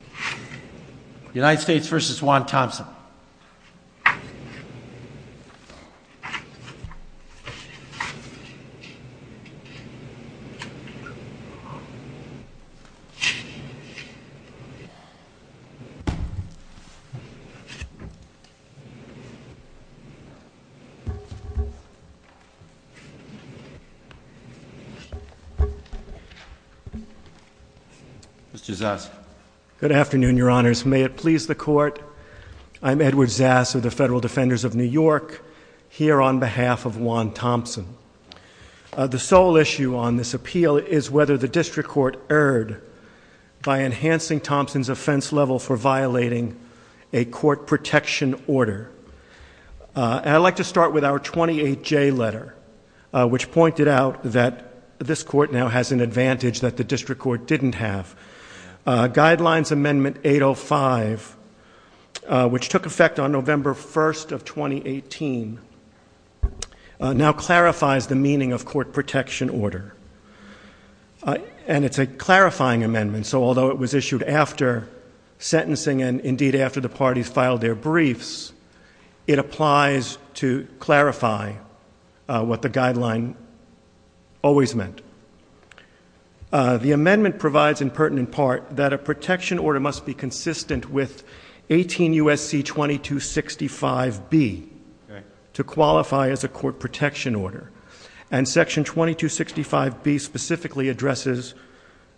The United States v. Juan Thompson. Mr. Zuss. Good afternoon, Your Honors. May it please the Court, I'm Edward Zass of the Federal Defenders of New York, here on behalf of Juan Thompson. The sole issue on this appeal is whether the District Court erred by enhancing Thompson's offense level for violating a court protection order. I'd like to start with our 28J letter, which pointed out that this Court now has an advantage that the District Court didn't have. Guidelines Amendment 805, which took effect on November 1st of 2018, now clarifies the meaning of court protection order. And it's a clarifying amendment, so although it was issued after sentencing and, indeed, after the parties filed their briefs, it applies to clarify what the guideline always meant. The amendment provides, in pertinent part, that a protection order must be consistent with 18 U.S.C. 2265B to qualify as a court protection order. And Section 2265B specifically addresses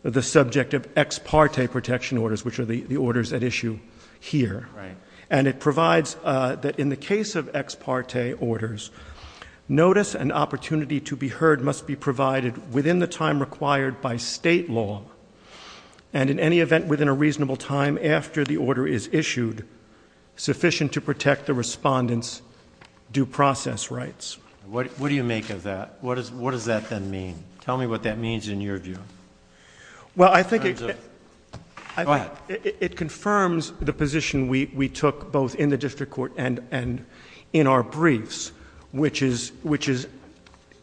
the subject of ex parte protection orders, which are the orders at issue here. And it provides that in the case of ex parte orders, notice and opportunity to be heard must be provided within the time required by state law. And in any event, within a reasonable time after the order is issued, sufficient to protect the respondent's due process rights. What do you make of that? What does that then mean? Tell me what that means in your view. Well, I think it confirms the position we took both in the district court and in our briefs, which is,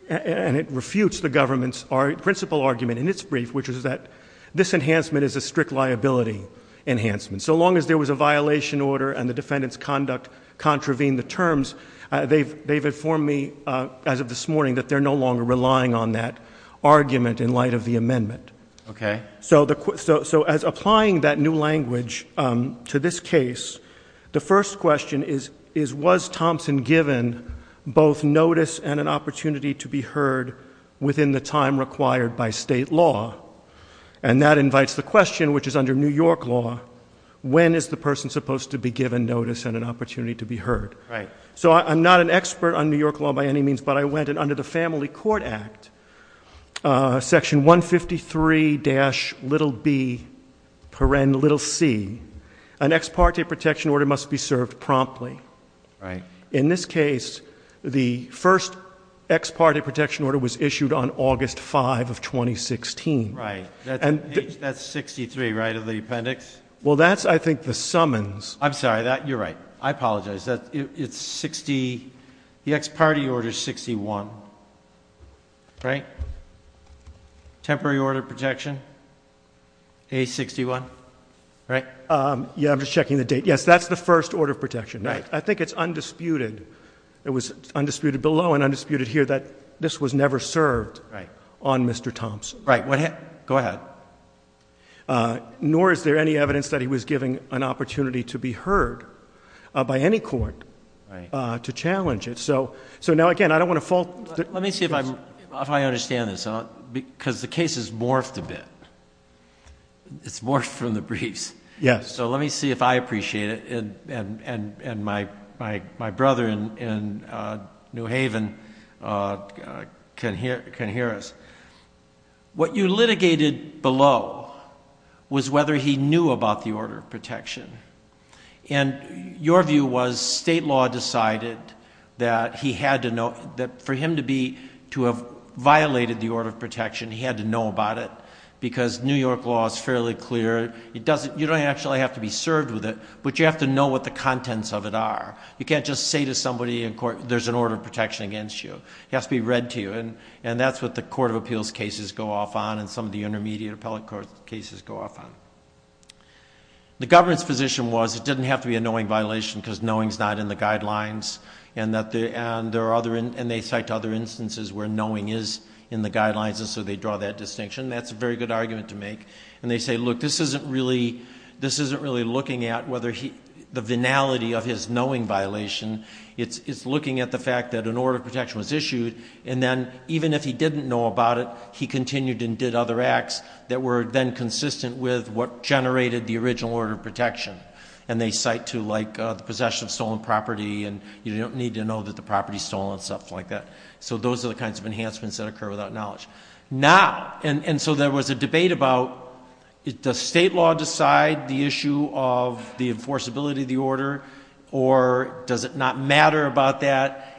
and it refutes the government's principle argument in its brief, which is that this enhancement is a strict liability enhancement. So long as there was a violation order and the defendant's conduct contravened the terms, they've informed me as of this morning that they're no longer relying on that argument in light of the amendment. Okay. So as applying that new language to this case, the first question is, was Thompson given both notice and an opportunity to be heard within the time required by state law? And that invites the question, which is under New York law, when is the person supposed to be given notice and an opportunity to be heard? Right. So I'm not an expert on New York law by any means, but I went and under the Family Court Act, section 153-b-c, an ex parte protection order must be served promptly. Right. In this case, the first ex parte protection order was issued on August 5 of 2016. Right. That's 63, right, of the appendix? Well, that's, I think, the summons. I'm sorry. You're right. I apologize. It's 60. The ex parte order is 61, right? Temporary order of protection, A61, right? Yeah, I'm just checking the date. Yes, that's the first order of protection. Right. I think it's undisputed. It was undisputed below and undisputed here that this was never served on Mr. Thompson. Right. Go ahead. Nor is there any evidence that he was given an opportunity to be heard by any court to challenge it. So now, again, I don't want to fall... Let me see if I understand this, because the case has morphed a bit. It's morphed from the briefs. Yes. Okay, so let me see if I appreciate it, and my brother in New Haven can hear us. What you litigated below was whether he knew about the order of protection, and your view was state law decided that for him to have violated the order of protection, he had to know about it, because New York law is fairly clear. You don't actually have to be served with it, but you have to know what the contents of it are. You can't just say to somebody in court, there's an order of protection against you. It has to be read to you, and that's what the court of appeals cases go off on and some of the intermediate appellate court cases go off on. The government's position was it didn't have to be a knowing violation, because knowing is not in the guidelines, and they cite other instances where knowing is in the guidelines, That's a very good argument to make. And they say, look, this isn't really looking at the venality of his knowing violation. It's looking at the fact that an order of protection was issued, and then even if he didn't know about it, he continued and did other acts that were then consistent with what generated the original order of protection. And they cite to, like, the possession of stolen property, and you don't need to know that the property's stolen and stuff like that. So those are the kinds of enhancements that occur without knowledge. Now, and so there was a debate about, does state law decide the issue of the enforceability of the order, or does it not matter about that,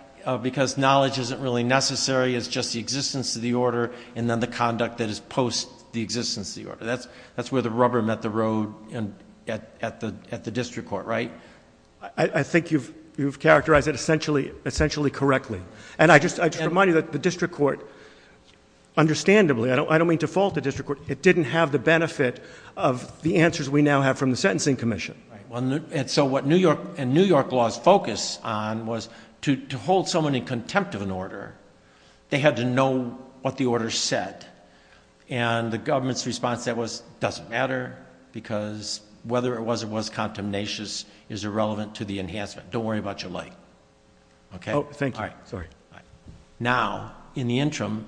because knowledge isn't really necessary, it's just the existence of the order, and then the conduct that is post the existence of the order. That's where the rubber met the road at the district court, right? I think you've characterized it essentially correctly. And I just remind you that the district court, understandably, I don't mean to fault the district court, it didn't have the benefit of the answers we now have from the sentencing commission. And so what New York laws focus on was to hold someone in contempt of an order, they had to know what the order said. And the government's response to that was, it doesn't matter, because whether it was or was contemnatious is irrelevant to the enhancement. Don't worry about your life. Okay? Oh, thank you. All right. Sorry. Now, in the interim,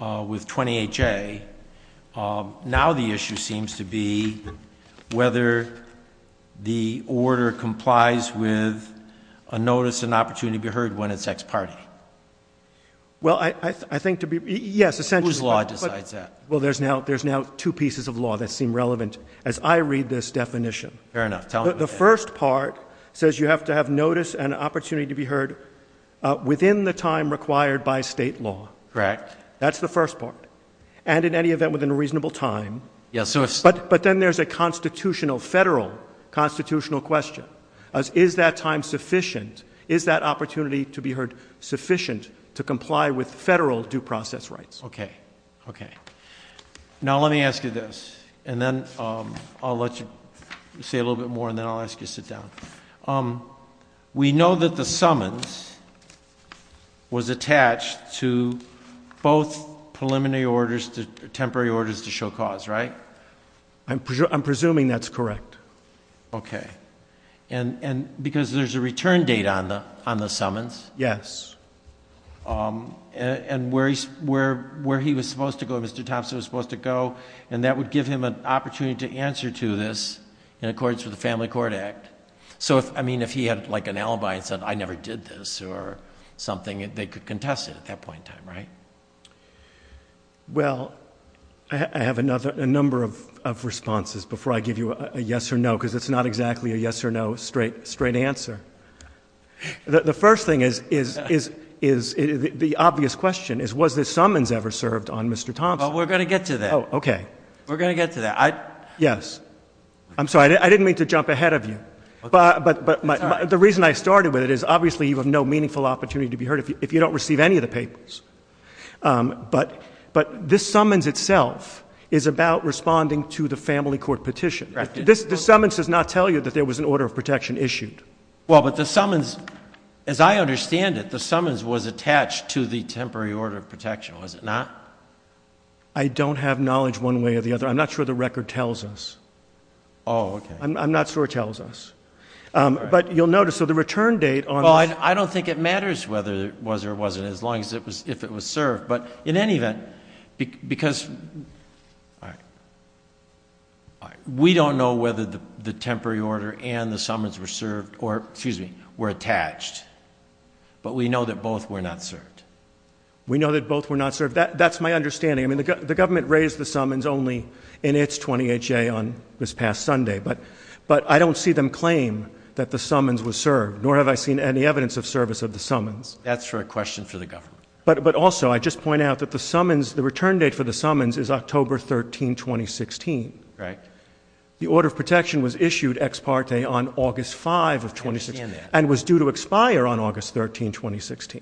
with 28J, now the issue seems to be whether the order complies with a notice and opportunity to be heard when it's ex parte. Well, I think to be, yes, essentially. Whose law decides that? Well, there's now two pieces of law that seem relevant as I read this definition. Fair enough. The first part says you have to have notice and opportunity to be heard within the time required by state law. Correct. That's the first part. And in any event within a reasonable time. Yes, sir. But then there's a constitutional, federal constitutional question. Is that time sufficient? Is that opportunity to be heard sufficient to comply with federal due process rights? Okay. Okay. Now, let me ask you this. And then I'll let you say a little bit more and then I'll ask you to sit down. We know that the summons was attached to both preliminary orders, temporary orders to show cause, right? I'm presuming that's correct. Okay. And because there's a return date on the summons. Yes. And where he was supposed to go, Mr. Thompson was supposed to go, and that would give him an opportunity to answer to this in accordance with the Family Court Act. So, I mean, if he had like an alibi and said I never did this or something, they could contest it at that point in time, right? Well, I have a number of responses before I give you a yes or no, because it's not exactly a yes or no straight answer. The first thing is the obvious question is was the summons ever served on Mr. Thompson? Well, we're going to get to that. Oh, okay. We're going to get to that. Yes. I'm sorry. I didn't mean to jump ahead of you. But the reason I started with it is obviously you have no meaningful opportunity to be heard if you don't receive any of the papers. But this summons itself is about responding to the family court petition. The summons does not tell you that there was an order of protection issued. Well, but the summons, as I understand it, the summons was attached to the temporary order of protection, was it not? I don't have knowledge one way or the other. I'm not sure the record tells us. Oh, okay. I'm not sure it tells us. But you'll notice, so the return date on this. Well, I don't think it matters whether it was or wasn't as long as it was served. But in any event, because we don't know whether the temporary order and the summons were served or, excuse me, were attached. But we know that both were not served. We know that both were not served. That's my understanding. I mean, the government raised the summons only in its 20HA on this past Sunday. But I don't see them claim that the summons was served, nor have I seen any evidence of service of the summons. That's for a question for the government. But also, I just point out that the summons, the return date for the summons is October 13, 2016. Right. The order of protection was issued ex parte on August 5 of 2016 and was due to expire on August 13, 2016.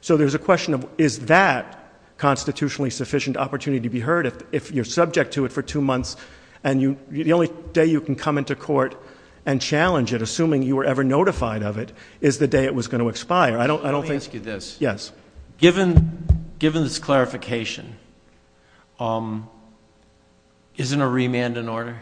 So there's a question of is that constitutionally sufficient opportunity to be heard if you're subject to it for two months and the only day you can come into court and challenge it, assuming you were ever notified of it, is the day it was going to expire. Let me ask you this. Yes. Given this clarification, isn't a remand an order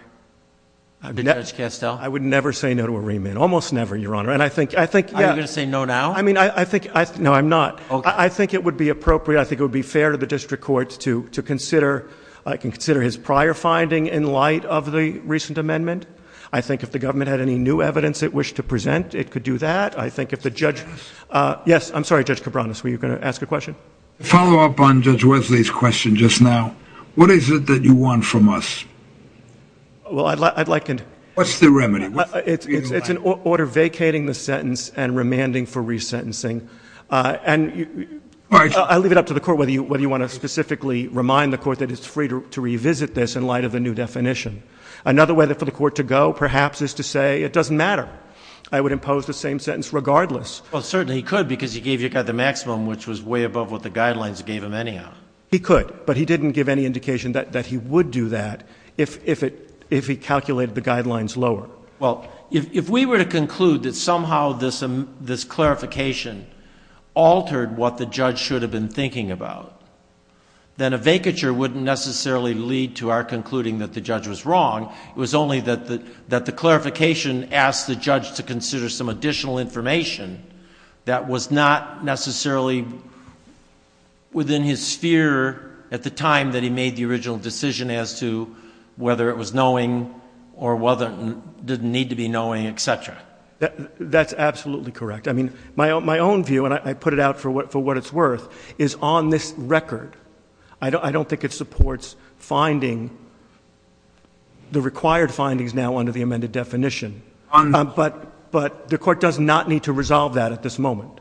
to Judge Castell? I would never say no to a remand. Almost never, Your Honor. Are you going to say no now? No, I'm not. I think it would be appropriate. I think it would be fair to the district court to consider his prior finding in light of the recent amendment. I think if the government had any new evidence it wished to present, it could do that. Yes, I'm sorry, Judge Cabranes. Were you going to ask a question? To follow up on Judge Wesley's question just now, what is it that you want from us? Well, I'd like and What's the remedy? It's an order vacating the sentence and remanding for resentencing. And I'll leave it up to the court whether you want to specifically remind the court that it's free to revisit this in light of the new definition. Another way for the court to go, perhaps, is to say it doesn't matter. I would impose the same sentence regardless. Well, certainly he could because he gave you the maximum, which was way above what the guidelines gave him anyhow. He could, but he didn't give any indication that he would do that if he calculated the guidelines lower. Well, if we were to conclude that somehow this clarification altered what the judge should have been thinking about, then a vacature wouldn't necessarily lead to our concluding that the judge was wrong. It was only that the clarification asked the judge to consider some additional information that was not necessarily within his sphere at the time that he made the original decision as to whether it was knowing or whether it didn't need to be knowing, etc. That's absolutely correct. I mean, my own view, and I put it out for what it's worth, is on this record, I don't think it supports finding the required findings now under the amended definition. But the court does not need to resolve that at this moment.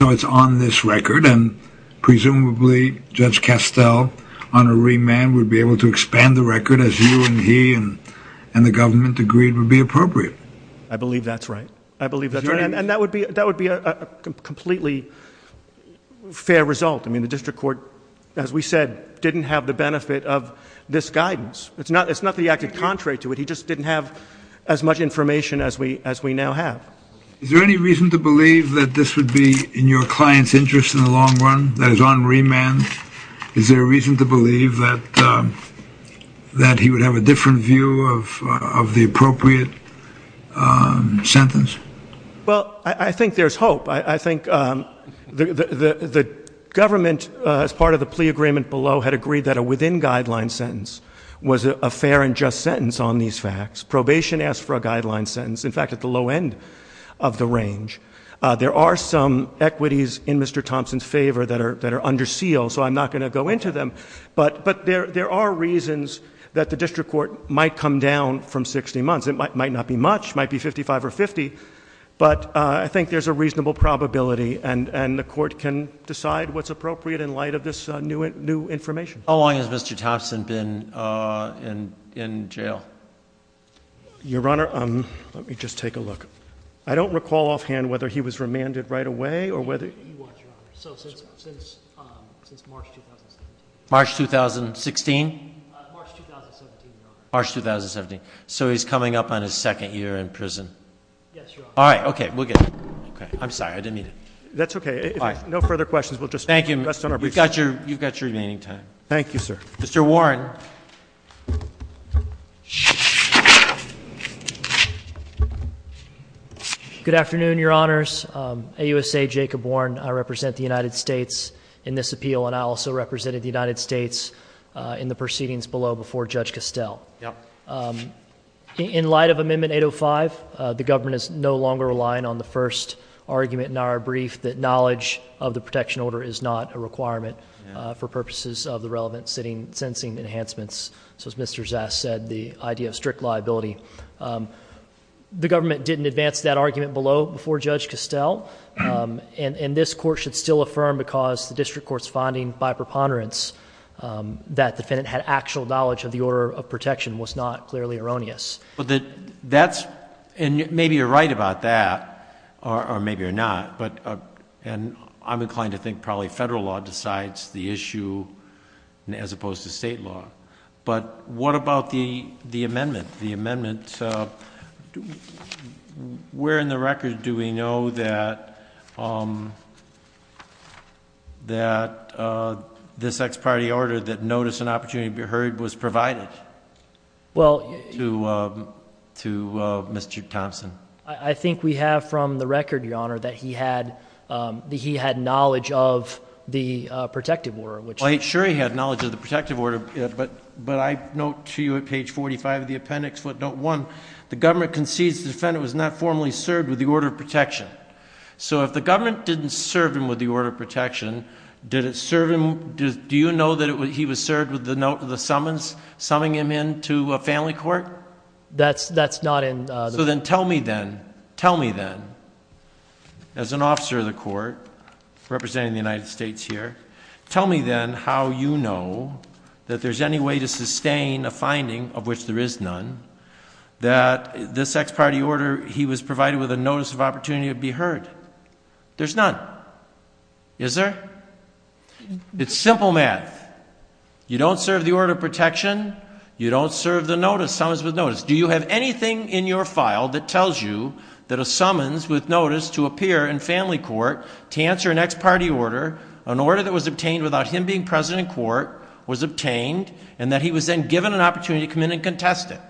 So it's on this record, and presumably Judge Castell, on a remand, would be able to expand the record as you and he and the government agreed would be appropriate. I believe that's right. I believe that's right. And that would be a completely fair result. I mean, the district court, as we said, didn't have the benefit of this guidance. It's not that he acted contrary to it. He just didn't have as much information as we now have. Is there any reason to believe that this would be in your client's interest in the long run, that it's on remand? Is there a reason to believe that he would have a different view of the appropriate sentence? Well, I think there's hope. I think the government, as part of the plea agreement below, had agreed that a within-guideline sentence was a fair and just sentence on these facts. Probation asked for a guideline sentence, in fact, at the low end of the range. There are some equities in Mr. Thompson's favor that are under seal, so I'm not going to go into them. But there are reasons that the district court might come down from 60 months. It might not be much. It might be 55 or 50. But I think there's a reasonable probability, and the court can decide what's appropriate in light of this new information. How long has Mr. Thompson been in jail? Your Honor, let me just take a look. I don't recall offhand whether he was remanded right away or whether he was remanded. He was, Your Honor, so since March 2017. March 2016? March 2017, Your Honor. March 2017. So he's coming up on his second year in prison? Yes, Your Honor. All right. Okay. We'll get it. Okay. I'm sorry. I didn't mean to. No further questions. We'll just rest on our briefs. Thank you. You've got your remaining time. Thank you, sir. Mr. Warren. Good afternoon, Your Honors. AUSA Jacob Warren. I represent the United States in this appeal, and I also represented the United States in the proceedings below before Judge Costell. Yep. In light of Amendment 805, the government is no longer relying on the first argument in our brief, that knowledge of the protection order is not a requirement for purposes of the relevant sentencing enhancements. So as Mr. Zass said, the idea of strict liability. The government didn't advance that argument below before Judge Costell, and this court should still affirm because the district court's finding by preponderance that the defendant had actual knowledge of the order of protection was not clearly erroneous. Maybe you're right about that, or maybe you're not. And I'm inclined to think probably federal law decides the issue as opposed to state law. But what about the amendment? Where in the record do we know that this ex parte order that notice and opportunity to be heard was provided to Mr. Thompson? I think we have from the record, Your Honor, that he had knowledge of the protective order. Well, sure he had knowledge of the protective order, but I note to you at page 45 of the appendix footnote 1, the government concedes the defendant was not formally served with the order of protection. So if the government didn't serve him with the order of protection, did it serve him, do you know that he was served with the note of the summons, summing him into a family court? That's not in. So then tell me then, tell me then, as an officer of the court representing the United States here, tell me then how you know that there's any way to sustain a finding of which there is none, that this ex parte order he was provided with a notice of opportunity to be heard. There's none. Is there? It's simple math. You don't serve the order of protection, you don't serve the notice, summons with notice. Do you have anything in your file that tells you that a summons with notice to appear in family court to answer an ex parte order, an order that was obtained without him being president in court, was obtained, and that he was then given an opportunity to come in and contest it?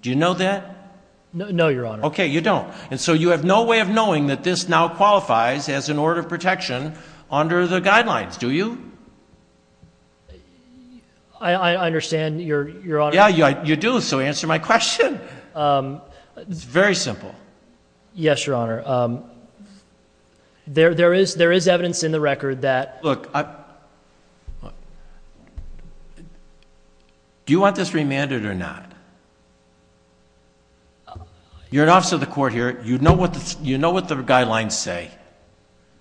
Do you know that? No, Your Honor. Okay, you don't. And so you have no way of knowing that this now qualifies as an order of protection under the guidelines, do you? I understand, Your Honor. Yeah, you do, so answer my question. It's very simple. Yes, Your Honor. There is evidence in the record that. Look, do you want this remanded or not? You're an officer of the court here. You know what the guidelines say.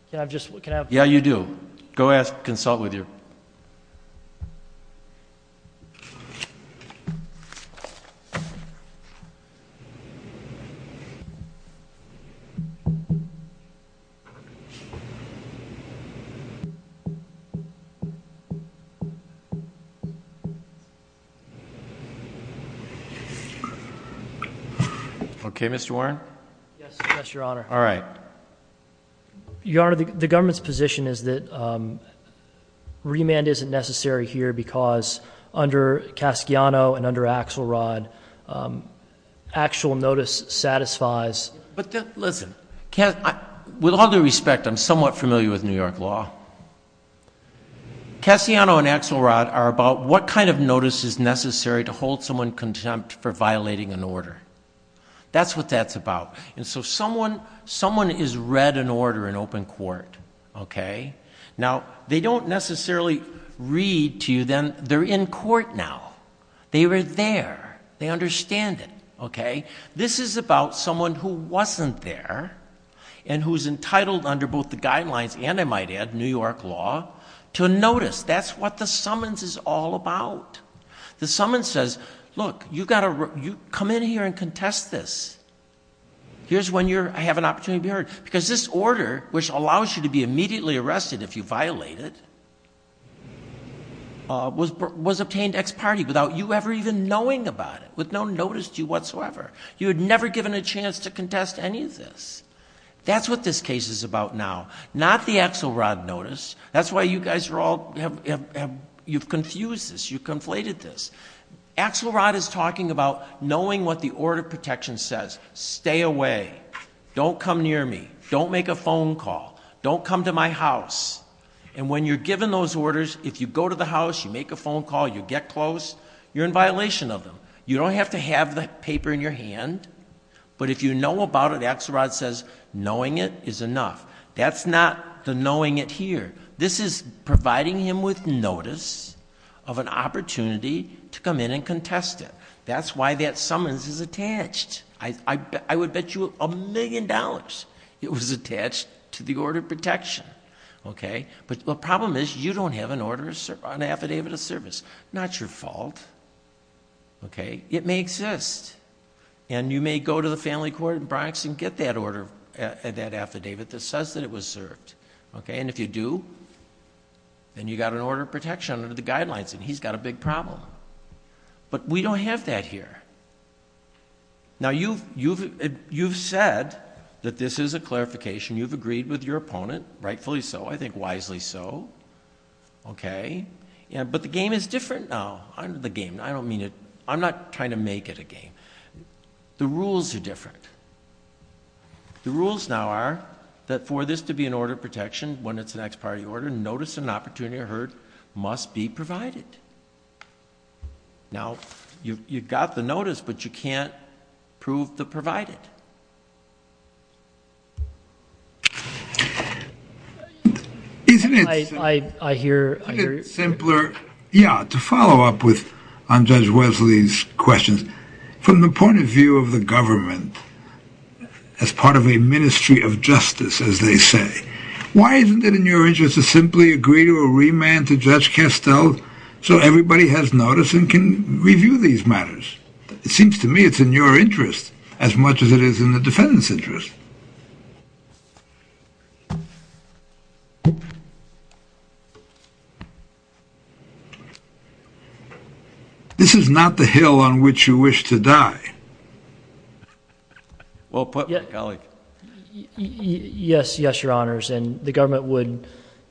Can I have just one? Yeah, you do. Go ask, consult with you. Okay, Mr. Warren. Yes, Your Honor. All right. Your Honor, the government's position is that remand isn't necessary here because under Casciano and under Axelrod, actual notice satisfies. But listen, with all due respect, I'm somewhat familiar with New York law. Casciano and Axelrod are about what kind of notice is necessary to hold someone contempt for violating an order. That's what that's about. And so someone is read an order in open court, okay? Now, they don't necessarily read to you then they're in court now. They were there. They understand it, okay? This is about someone who wasn't there and who's entitled under both the guidelines and, I might add, New York law, to notice. That's what the summons is all about. The summons says, look, you've got to come in here and contest this. Here's when I have an opportunity to be heard. Because this order, which allows you to be immediately arrested if you violate it, was obtained ex parte without you ever even knowing about it, with no notice to you whatsoever. You had never given a chance to contest any of this. That's what this case is about now, not the Axelrod notice. That's why you guys are all, you've confused this, you've conflated this. Axelrod is talking about knowing what the order of protection says. Stay away. Don't come near me. Don't make a phone call. Don't come to my house. And when you're given those orders, if you go to the house, you make a phone call, you get close, you're in violation of them. You don't have to have the paper in your hand. But if you know about it, Axelrod says knowing it is enough. That's not the knowing it here. This is providing him with notice of an opportunity to come in and contest it. That's why that summons is attached. I would bet you a million dollars it was attached to the order of protection. But the problem is you don't have an order, an affidavit of service. Not your fault. It may exist. And you may go to the family court in Bronx and get that order, that affidavit that says that it was served. And if you do, then you've got an order of protection under the guidelines and he's got a big problem. But we don't have that here. Now, you've said that this is a clarification. You've agreed with your opponent, rightfully so, I think wisely so. But the game is different now. I'm not trying to make it a game. The rules are different. The rules now are that for this to be an order of protection when it's an ex parte order, notice and opportunity are heard, must be provided. Now, you've got the notice, but you can't prove the provided. Isn't it simpler, yeah, to follow up on Judge Wesley's questions, from the point of view of the government, as part of a ministry of justice, as they say, why isn't it in your interest to simply agree to a remand to Judge Castel so everybody has notice and can review these matters? It seems to me it's in your interest as much as it is in the defendant's interest. This is not the hill on which you wish to die. Yes, your honors, and the government would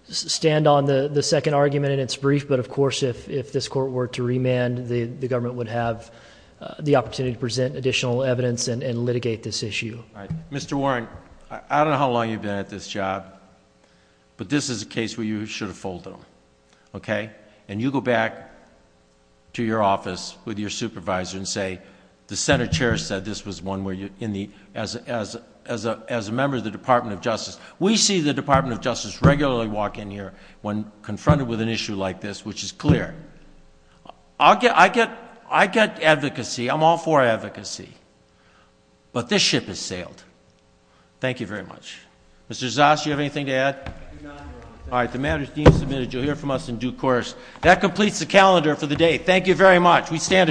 stand on the second argument in its brief, but of course if this court were to remand, the government would have the opportunity to present additional evidence and litigate this issue. Mr. Warren, I don't know how long you've been at this job, but this is a case where you should have folded them. Okay? And you go back to your office with your supervisor and say the Senate chair said this was one where you, as a member of the Department of Justice, we see the Department of Justice regularly walk in here when confronted with an issue like this, which is clear. I get advocacy, I'm all for advocacy, but this ship has sailed. Thank you very much. All right, the matter is deemed submitted. You'll hear from us in due course. That completes the calendar for the day. Thank you very much. We stand adjourned.